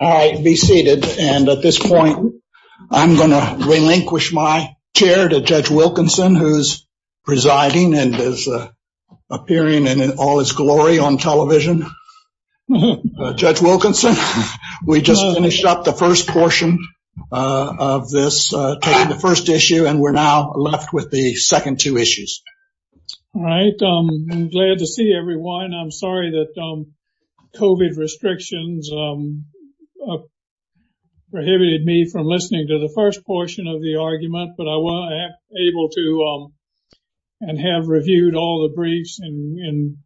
All right, be seated. And at this point, I'm going to relinquish my chair to Judge Wilkinson who's presiding and is appearing in all his glory on television. Judge Wilkinson, we just finished up the first portion of this, the first issue, and we're now left with the second two issues. Judge Wilkinson All right, I'm glad to see everyone. I'm sorry that COVID restrictions prohibited me from listening to the first portion of the argument, but I was able to and have reviewed all the briefs in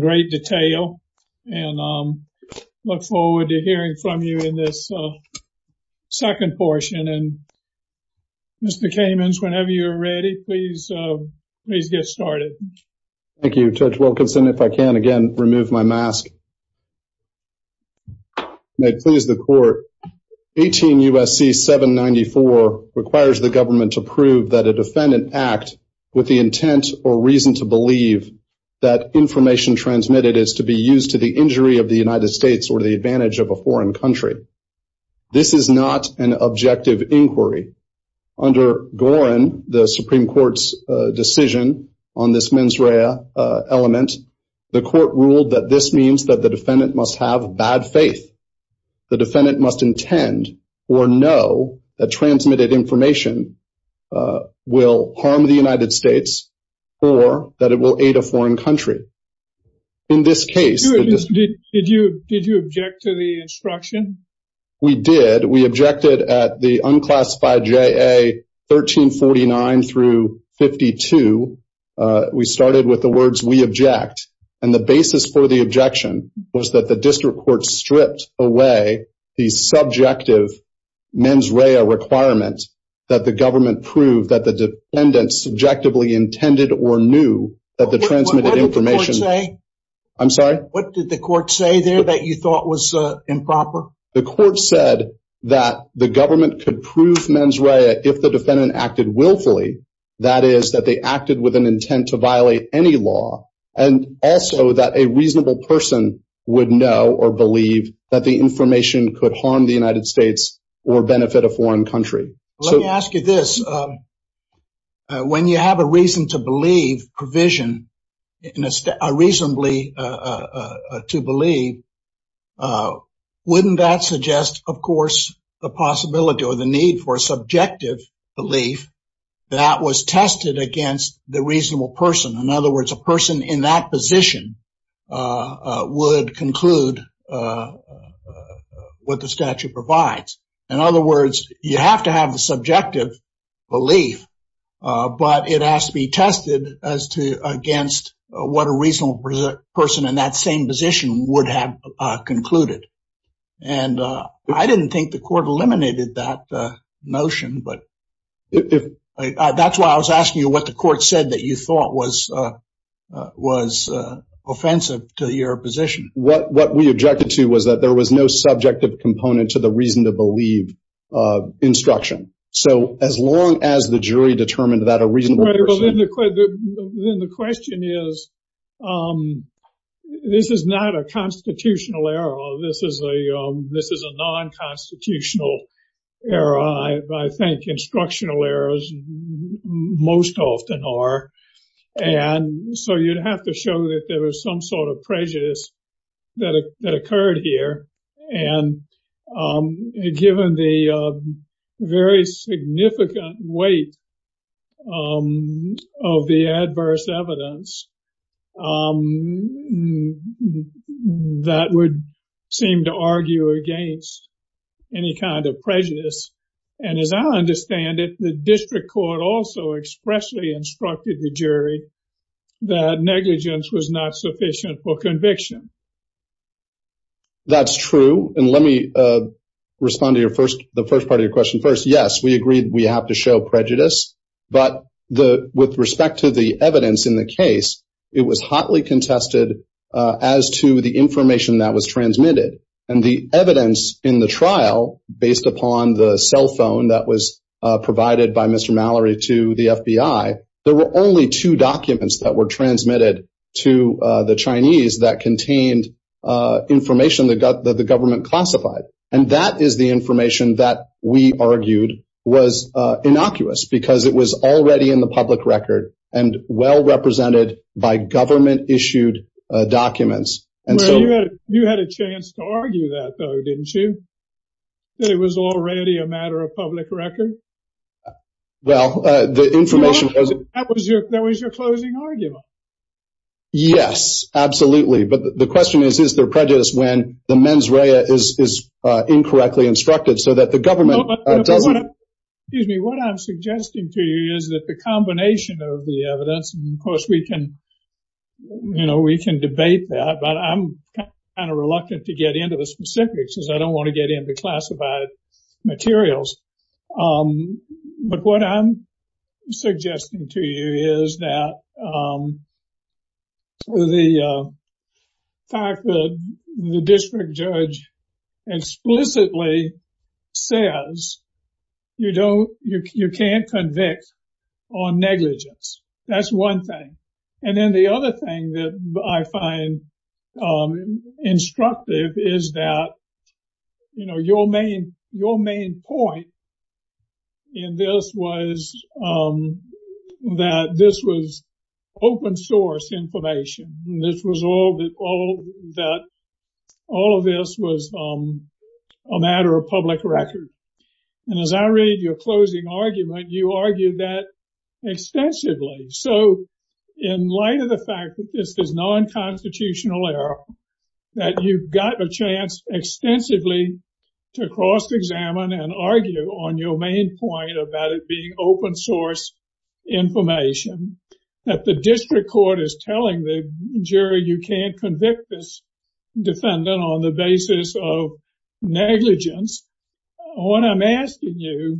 great detail. And I look forward to hearing from you in this second portion. And Mr. Kamens, whenever you're ready, please, please get started. Judge Kamens Thank you, Judge Wilkinson. If I can again, remove my mask. May it please the court. 18 U.S.C. 794 requires the government to prove that a defendant act with the intent or reason to believe that information transmitted is to be used to the injury of the United States or the advantage of a foreign country. This is not an objective inquiry. Under Gorin, the Supreme Court's decision on this mens rea element, the court ruled that this means that the defendant must have bad faith. The defendant must intend or know that transmitted information will harm the United In this case, Judge Kamens Did you did you object to the instruction? Judge Wilkinson We did we objected at the unclassified JA 1349 through 52. We started with the words we object. And the basis for the objection was that the district court stripped away the subjective mens rea requirement that the government proved that the defendant subjectively intended or knew that the transmitted information Judge Kamens I'm sorry, what did the court say there that you thought was improper? Judge Wilkinson The court said that the government could prove mens rea if the defendant acted willfully, that is that they acted with an intent to violate any law, and also that a reasonable person would know or believe that the information could harm the United States or benefit a foreign country. Judge Kamens Let me ask you this. When you have a reason to believe provision in a reasonably to believe, wouldn't that suggest, of course, the possibility or the need for subjective belief that was tested against the reasonable person? In other words, you have to have the subjective belief, but it has to be tested as to against what a reasonable person in that same position would have concluded. And I didn't think the court eliminated that notion. But that's why I was asking you what the court said that you thought was, was offensive to your position. Judge Wilkinson What we objected to was that there was no subjective component to the reason to believe instruction. So as long as the jury determined that a reasonable person... constitutional error, this is a non-constitutional error. I think instructional errors most often are. And so you'd have to show that there was some sort of prejudice that occurred here. And given the very significant weight of the adverse evidence, that would seem to argue against any kind of prejudice. And as I understand it, the district court also expressly instructed the jury that negligence was not sufficient for conviction. That's true. And let me respond to your first the first part of your question. First, yes, we agreed we have to show prejudice. But the with respect to the evidence in the case, it was hotly contested as to the information that was transmitted. And the evidence in the trial based upon the cell phone that was provided by Mr. Mallory to the FBI, there were only two documents that were transmitted to the Chinese that contained information that got the government classified. And that is the information that we argued was innocuous because it was already in the public record and well represented by government issued documents. And so you had a chance to argue that, though, didn't you? It was already a matter of public record. Well, the information that was your that was your closing argument? Yes, absolutely. But the question is, is there prejudice when the mens rea is incorrectly instructed so that the government doesn't use me? What I'm suggesting to you is that the combination of the evidence, of course, we can, you know, we can debate that. But I'm kind of reluctant to get into the specifics because I don't want to get into classified materials. But what I'm suggesting to you is that the fact that the district judge explicitly says, you know, you can't convict on negligence. That's one thing. And then the other thing that I find instructive is that, you know, your main point in this was that this was open source information. This was all that all of this was a matter of public record. And so I'm suggesting to you, Ms. Blair, that you've got a chance extensively to cross examine and argue on your main point about it being open source information that the district court is telling the jury you can't convict this defendant on the basis of negligence. What I'm asking you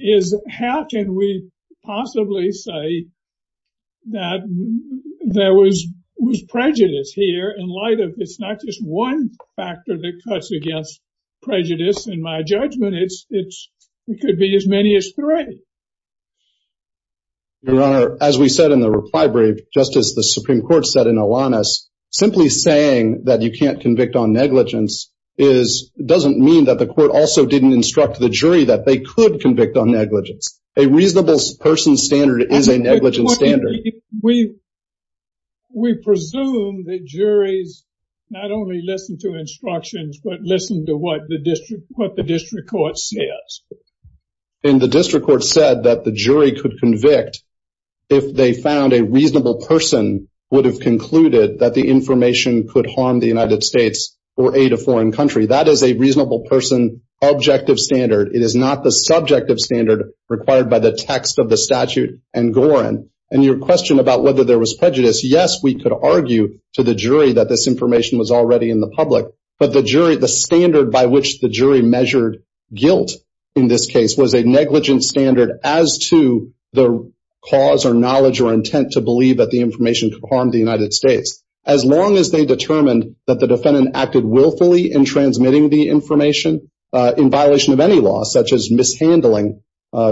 is how can we address the prejudice here in light of it's not just one factor that cuts against prejudice. In my judgment, it's it's it could be as many as three. Your Honor, as we said in the reply brief, Justice, the Supreme Court said in Alanis, simply saying that you can't convict on negligence is doesn't mean that the jury's not only listen to instructions, but listen to what the district what the district court says in the district court said that the jury could convict if they found a reasonable person would have concluded that the information could harm the United States or aid a foreign country. That is a reasonable person. Objective standard required by the text of the statute and Gorin and your question about whether there was prejudice. Yes, we could argue to the jury that this information was already in the public, but the jury, the standard by which the jury measured guilt in this case was a negligent standard as to the cause or knowledge or intent to believe that the information could harm the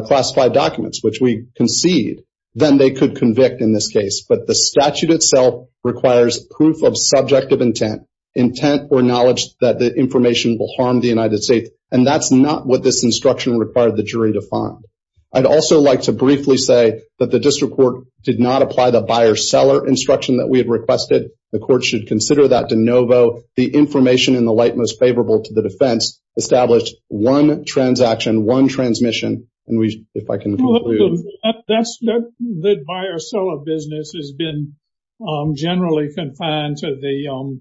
classified documents, which we concede, then they could convict in this case. But the statute itself requires proof of subjective intent, intent or knowledge that the information will harm the United States. And that's not what this instruction required the jury to find. I'd also like to briefly say that the district court did not apply the buyer seller instruction that we had requested. The court should consider that de novo. The information in the light most favorable to the defense established one transaction, one transmission. And if I can, that's the buyer seller business has been generally confined to the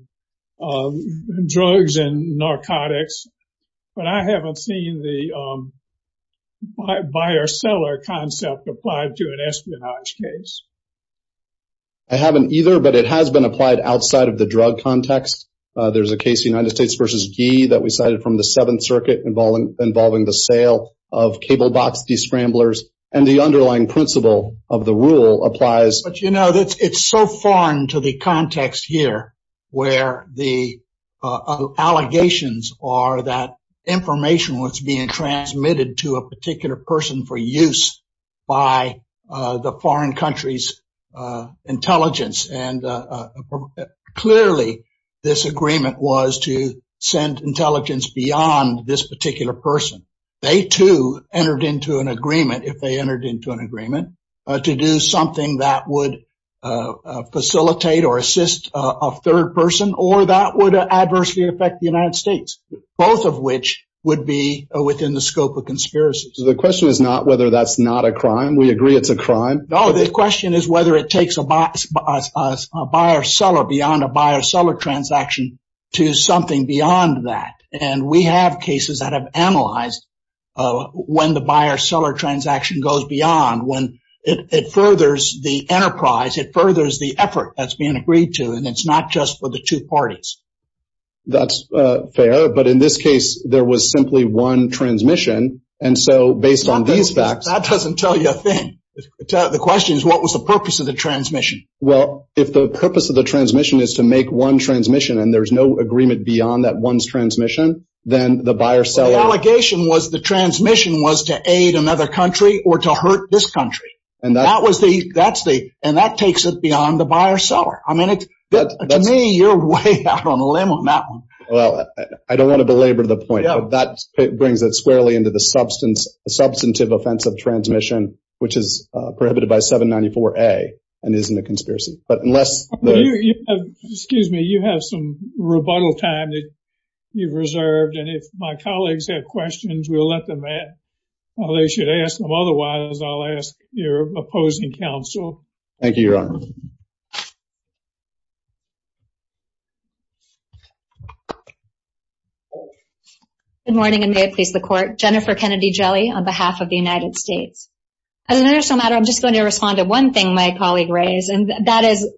drugs and narcotics. But I haven't seen the buyer seller concept applied to an espionage case. I haven't either, but it has been applied outside of the drug context. There's a case United States versus Guy that we cited from the Seventh Circuit involving involving the sale of cable box, the scramblers and the underlying principle of the rule applies. But you know, it's so foreign to the context here, where the allegations are that information was being transmitted to a particular person for use by the foreign countries intelligence. And clearly, this agreement was to send intelligence beyond this particular person. They too entered into an agreement if they entered into an agreement to do something that would facilitate or assist a third person or that would adversely affect the United States, both of which would be within the scope of conspiracies. The question is not whether that's not a crime. We agree it's a crime. No, the question is whether it takes a buyer seller beyond a buyer seller transaction to something beyond that. And we have cases that have analyzed when the buyer seller transaction goes beyond when it furthers the enterprise, it furthers the effort that's being agreed to. And it's not just for the two parties. That's fair. But in this case, there was simply one transmission. And so based on these facts, that doesn't tell you a thing. The question is, what was the purpose of the transmission? Well, if the purpose of the transmission is to make one transmission, and there's no agreement beyond that one's transmission, then the buyer seller allegation was the transmission was to aid another country or to hurt this country. And that was the that's the and that takes it beyond the buyer seller. I mean, it's that to me, you're way out on a limb on that one. Well, I don't want to belabor the point that brings it squarely into the substance substantive offense of transmission, which is prohibited by 794. A and isn't a conspiracy. But unless excuse me, you have some rebuttal time that you've reserved. And if my colleagues have questions, we'll let them in. They should ask them. Otherwise, I'll ask your opposing counsel. Oh, good morning, and may it please the court, Jennifer Kennedy jelly on behalf of the United States. As an international matter, I'm just going to respond to one thing my colleague raised. And that is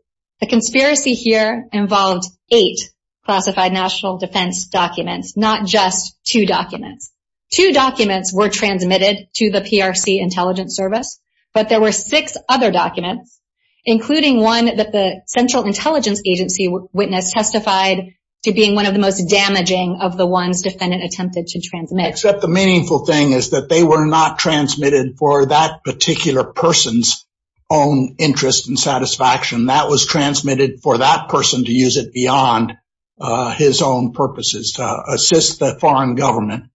a conspiracy here involved eight classified national defense documents, not just two documents. Two documents were transmitted to the PRC intelligence service. But there were six other documents, including one that the Central Intelligence Agency witnessed testified to being one of the most damaging of the ones defendant attempted to transmit except the meaningful thing is that they were not transmitted for that particular person's own interest and satisfaction that was transmitted for that person to use it beyond his own purposes to assist the foreign government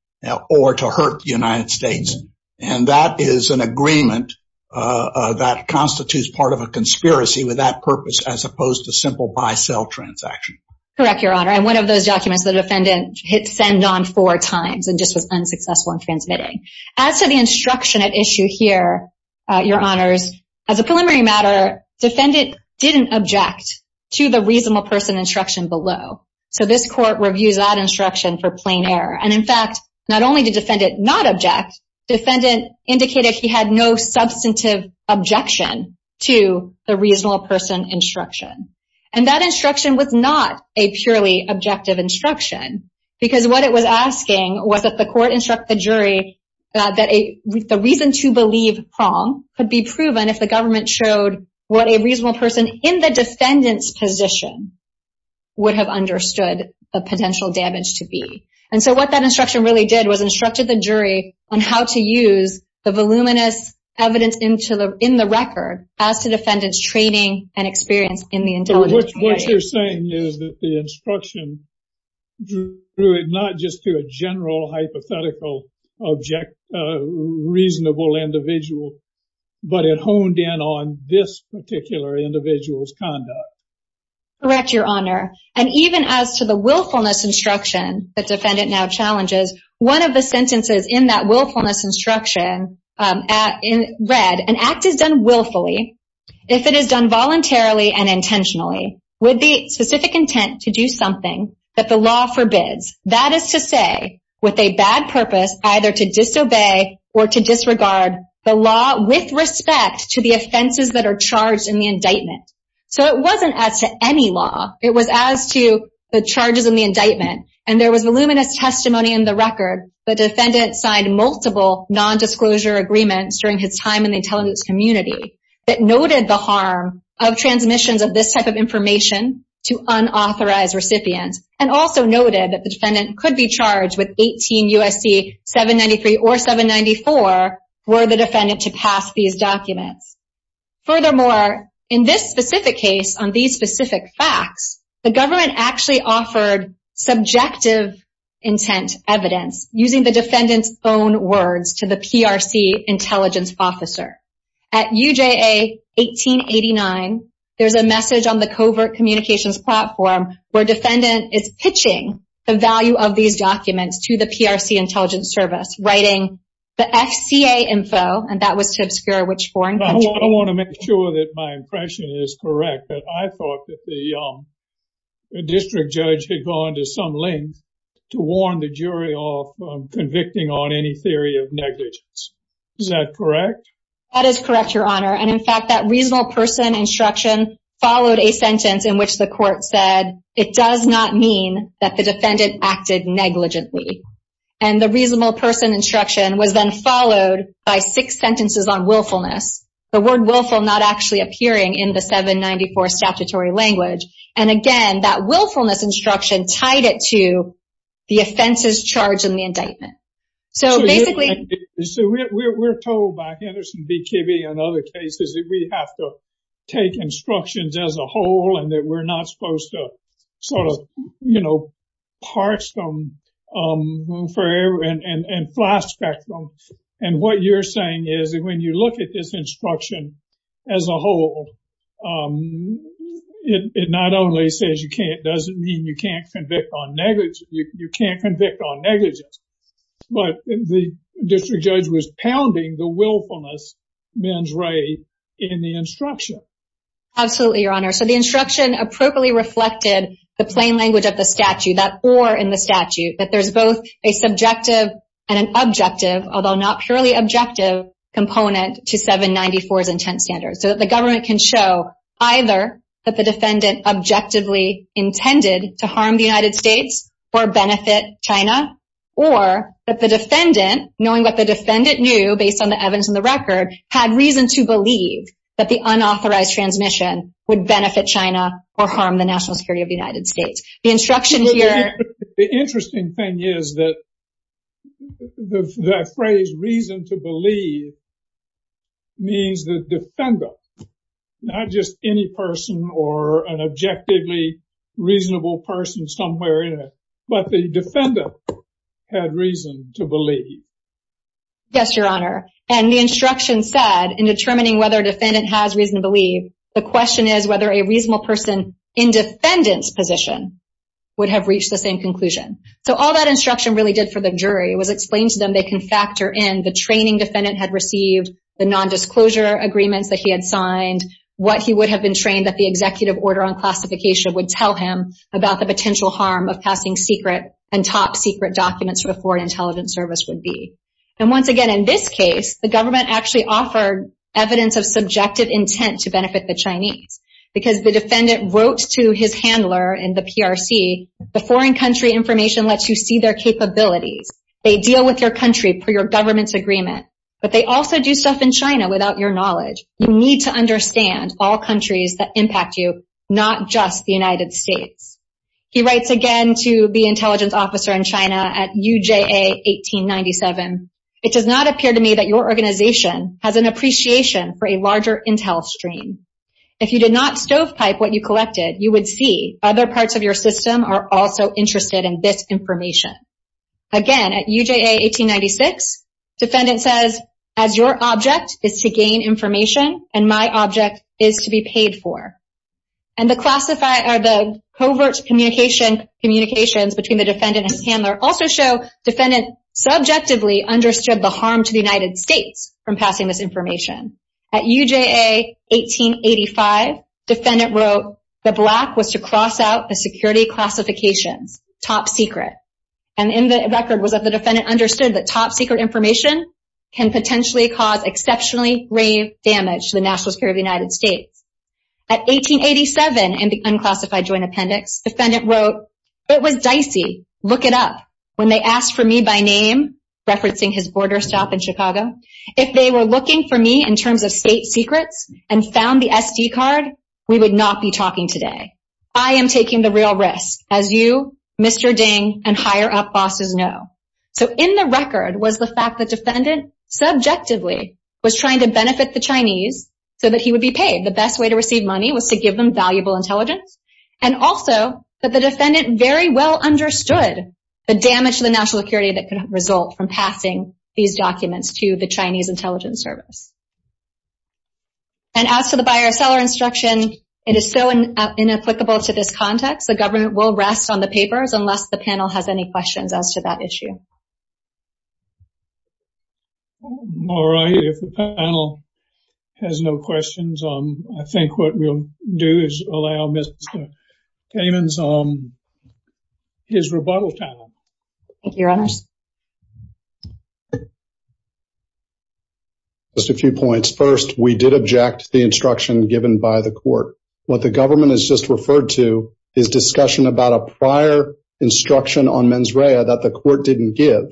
or to hurt the United States. And that is an agreement that constitutes part of a conspiracy with that purpose as opposed to simple buy sell transaction. Correct, Your Honor. And one of those documents, the defendant hit send on four times and just was unsuccessful in transmitting. As to the instruction at issue here, Your Honors, as a preliminary matter, defendant didn't object to the reasonable person instruction below. So this court reviews that instruction for plain error. And in fact, not only did defendant not object, defendant indicated he had no substantive objection to the reasonable person instruction. And that instruction was not a purely objective instruction, because what it was asking was that the court instruct the jury that the reason to believe wrong could be proven if the government showed what a reasonable person in the defendant's position would have understood the potential damage to be. And so what that instruction really did was instructed the jury on how to use the voluminous evidence into the in the record as to defendant's training and experience in the intelligence. What you're saying is that the instruction drew it not just to a general hypothetical object, reasonable individual, but it honed in on this particular individual's conduct. Correct, Your Honor. And even as to the willfulness instruction that defendant now challenges, one of the sentences in that willfulness instruction read, an act is done willfully if it is done voluntarily and intentionally with the specific intent to do something that the law forbids, that is to say, with a bad purpose, either to disobey or to disregard the law with respect to the offenses that are charged in the indictment. So it wasn't as to any law. It was as to the charges in the indictment. And there was voluminous testimony in the record. The defendant signed multiple nondisclosure agreements during his time in the intelligence community that noted the harm of transmissions of this type of information to unauthorized recipients and also noted that the defendant could be charged with 18 U.S.C. 793 or 794 were the defendant to pass these documents. Furthermore, in this specific case on these specific facts, the government actually offered subjective intent evidence using the defendant's own words to the PRC intelligence officer. At UJA 1889, there's a message on the covert communications platform where defendant is pitching the value of these documents to the PRC intelligence service, writing the FCA info, and that was to obscure which foreign country. I want to make sure that my impression is correct that I thought that the district judge had gone to some length to warn the jury of convicting on any theory of negligence. Is that correct? That is correct, Your Honor. And in fact, that reasonable person instruction followed a sentence in which the court said, it does not mean that the defendant acted negligently. And the reasonable person instruction was then followed by six sentences on willfulness, the word willful not actually appearing in the 794 statutory language. And again, that willfulness instruction tied it to the offenses charged in the indictment. So basically, we're told by Henderson v. Kibbe and other cases that we have to take instructions as a whole and that we're not supposed to sort of, you know, parse them forever and flashback them. And what you're saying is that when you look at this instruction as a whole, it not only says you can't doesn't mean you can't convict on negligence, you can't convict on negligence. But the district judge was pounding the willfulness mens re in the instruction. Absolutely, Your Honor. So the instruction appropriately reflected the plain language of the statute, that or in the statute, that there's both a subjective and an objective, although not purely objective, component to 794's intent standards. So that the government can show either that the defendant objectively intended to harm the United States or benefit China, or that the defendant, knowing what the defendant knew, based on the evidence in the record, had reason to believe that the unauthorized transmission would benefit China or harm the national security of the United States. The instruction here... The interesting thing is that the phrase reason to believe means the defendant, not just any person or an objectively reasonable person somewhere in it, but the defendant had reason to believe. Yes, Your Honor. And the instruction said, in determining whether a defendant has reason to believe, the question is whether a reasonable person in defendant's position would have reached the same conclusion. So all that instruction really did for the jury was explain to them they can factor in the training defendant had received, the non-disclosure agreements that he had signed, what he would have been trained that the executive order on classification would tell him about the potential harm of passing secret and top secret documents for a foreign intelligence service would be. And once again, in this case, the government actually offered evidence of subjective intent to benefit the Chinese, because the defendant wrote to his handler in the PRC, the foreign country information lets you see their capabilities. They deal with your country per your government's agreement, but they also do stuff in China without your knowledge. You need to understand all countries that impact you, not just the United States. He writes again to the intelligence officer in China at UJA 1897. Again, at UJA 1896, defendant says, as your object is to gain information and my object is to be paid for. And the covert communications between the defendant and his handler also show defendant subjectively understood the harm to the United States from passing this information. At UJA 1885, defendant wrote, the black was to cross out the security classifications, top secret. And in the record was that the defendant understood that top secret information can potentially cause exceptionally grave damage to the national security of the United States. At 1887, in the unclassified joint appendix, defendant wrote, it was dicey, look it up, when they asked for me by name, referencing his border stop in Chicago, if they were looking for me in terms of state secrets and found the SD card, we would not be talking today. I am taking the real risk, as you, Mr. Ding, and higher up bosses know. So in the record was the fact that defendant subjectively was trying to benefit the Chinese so that he would be paid. The best way to receive money was to give them valuable intelligence. And also that the defendant very well understood the damage to the national security that could result from passing these documents to the Chinese intelligence service. And as to the buyer seller instruction, it is so inapplicable to this context, the government will rest on the papers unless the panel has any questions as to that issue. All right, if the panel has no questions, I think what we'll do is allow Mr. Kamen's, his rebuttal panel. Thank you, your honors. Just a few points. First, we did object to the instruction given by the court. What the government has just referred to is discussion about a prior instruction on mens rea that the court didn't give.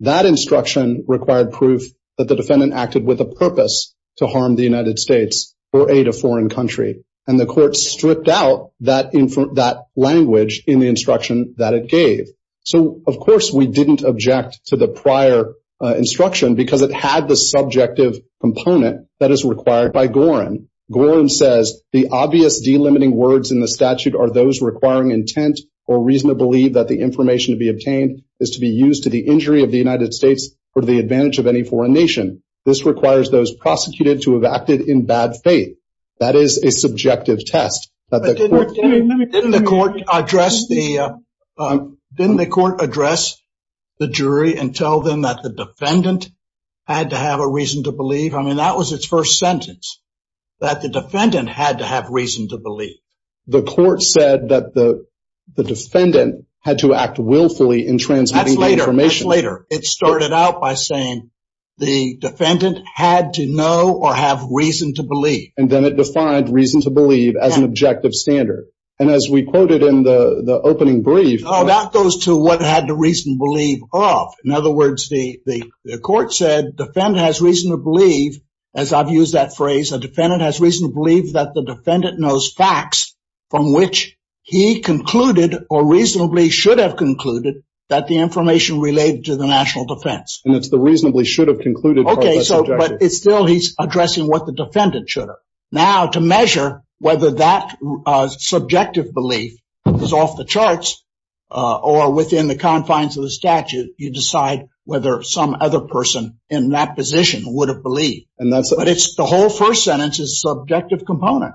That instruction required proof that the defendant acted with a purpose to harm the United States or aid a foreign country. And the court stripped out that language in the instruction that it gave. So, of course, we didn't object to the prior instruction because it had the subjective component that is required by Gorin. Gorin says the obvious delimiting words in the statute are those requiring intent or reason to believe that the information to be obtained is to be used to the injury of the United States or the advantage of any foreign nation. This requires those prosecuted to have acted in bad faith. That is a subjective test. Didn't the court address the jury and tell them that the defendant had to have a reason to believe? I mean, that was its first sentence, that the defendant had to have reason to believe. The court said that the defendant had to act willfully in transmitting information later. It started out by saying the defendant had to know or have reason to believe. And then it defined reason to believe as an objective standard. And as we quoted in the opening brief. Oh, that goes to what had the reason to believe of. In other words, the court said the defendant has reason to believe, as I've used that phrase, a defendant has reason to believe that the defendant knows facts from which he concluded or reasonably should have concluded that the information related to the national defense. And it's the reasonably should have concluded. But it's still he's addressing what the defendant should have. Now, to measure whether that subjective belief is off the charts or within the confines of the statute, you decide whether some other person in that position would have believed. And that's what it's the whole first sentence is subjective component.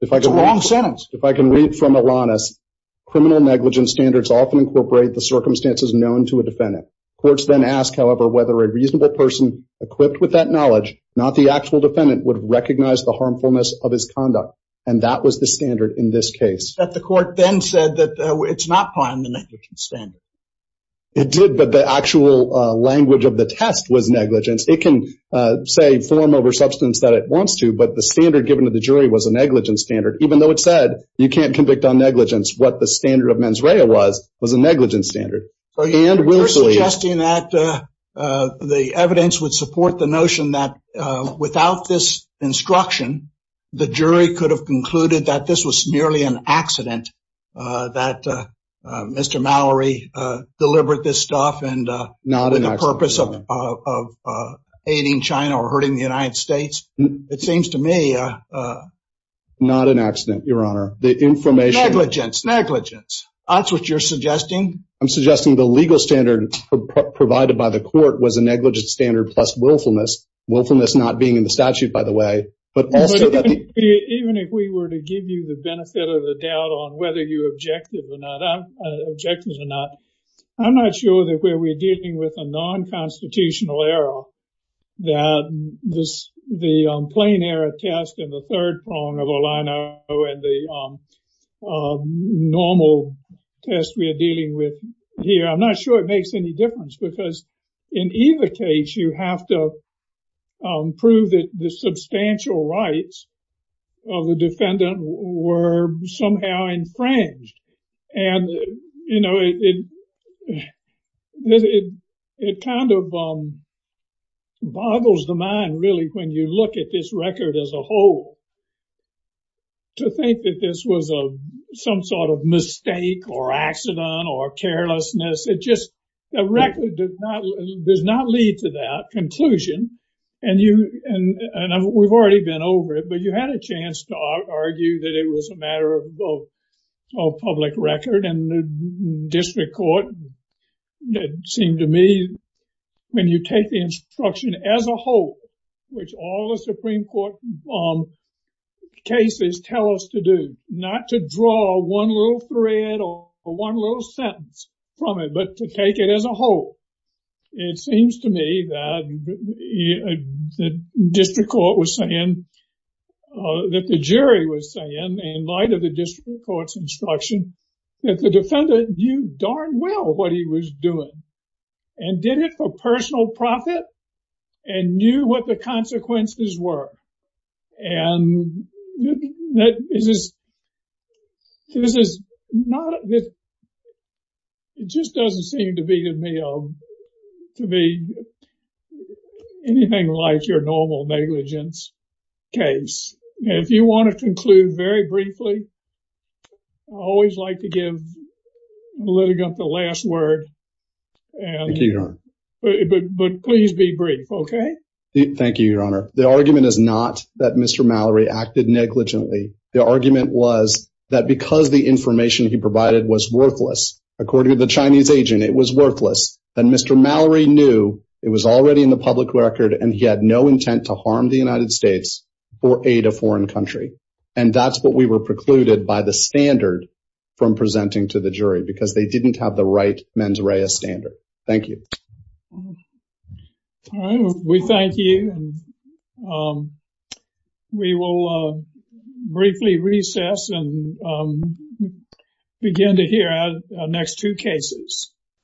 If I can long sentence, if I can read from Alana's criminal negligence standards, often incorporate the circumstances known to a defendant. Courts then ask, however, whether a reasonable person equipped with that knowledge, not the actual defendant would recognize the harmfulness of his conduct. And that was the standard in this case that the court then said that it's not on the standard. It did, but the actual language of the test was negligence. It can say form over substance that it wants to. But the standard given to the jury was a negligence standard, even though it said you can't convict on negligence. What the standard of mens rea was was a negligence standard. And we're suggesting that the evidence would support the notion that without this instruction, the jury could have concluded that this was merely an accident, that Mr. Mallory delivered this stuff and not in the purpose of aiding China or hurting the United States. It seems to me not an accident. Your Honor, the information, negligence, negligence. That's what you're suggesting. I'm suggesting the legal standard provided by the court was a negligence standard plus willfulness. Willfulness not being in the statute, by the way. But even if we were to give you the benefit of the doubt on whether you objected or not, objected or not, I'm not sure that where we're dealing with a non-constitutional error, that this the plain error test in the third prong of all I know, and the normal test we are dealing with here. I'm not sure it makes any difference because in either case, you have to prove that the substantial rights of the defendant were somehow infringed. And, you know, it kind of boggles the mind, really, when you look at this record as a whole. To think that this was some sort of mistake or accident or carelessness, it just, the record does not lead to that conclusion. And we've already been over it. But you had a chance to argue that it was a matter of public record. And the district court, it seemed to me, when you take the instruction as a whole, which all the Supreme Court cases tell us to do, not to draw one little thread or one little sentence from it, but to take it as a whole. It seems to me that the district court was saying, that the jury was saying, in light of the district court's instruction, that the defendant knew darn well what he was doing. And did it for personal profit and knew what the consequences were. And this is not, it just doesn't seem to me to be anything like your normal negligence case. If you want to conclude very briefly, I always like to give the litigant the last word. Thank you, Your Honor. But please be brief, okay? Thank you, Your Honor. The argument is not that Mr. Mallory acted negligently. The argument was that because the information he provided was worthless, according to the Chinese agent, it was worthless. And Mr. Mallory knew it was already in the public record, and he had no intent to harm the United States or aid a foreign country. And that's what we were precluded by the standard from presenting to the jury, because they didn't have the right mens rea standard. Thank you. All right. We thank you. We will briefly recess and begin to hear our next two cases.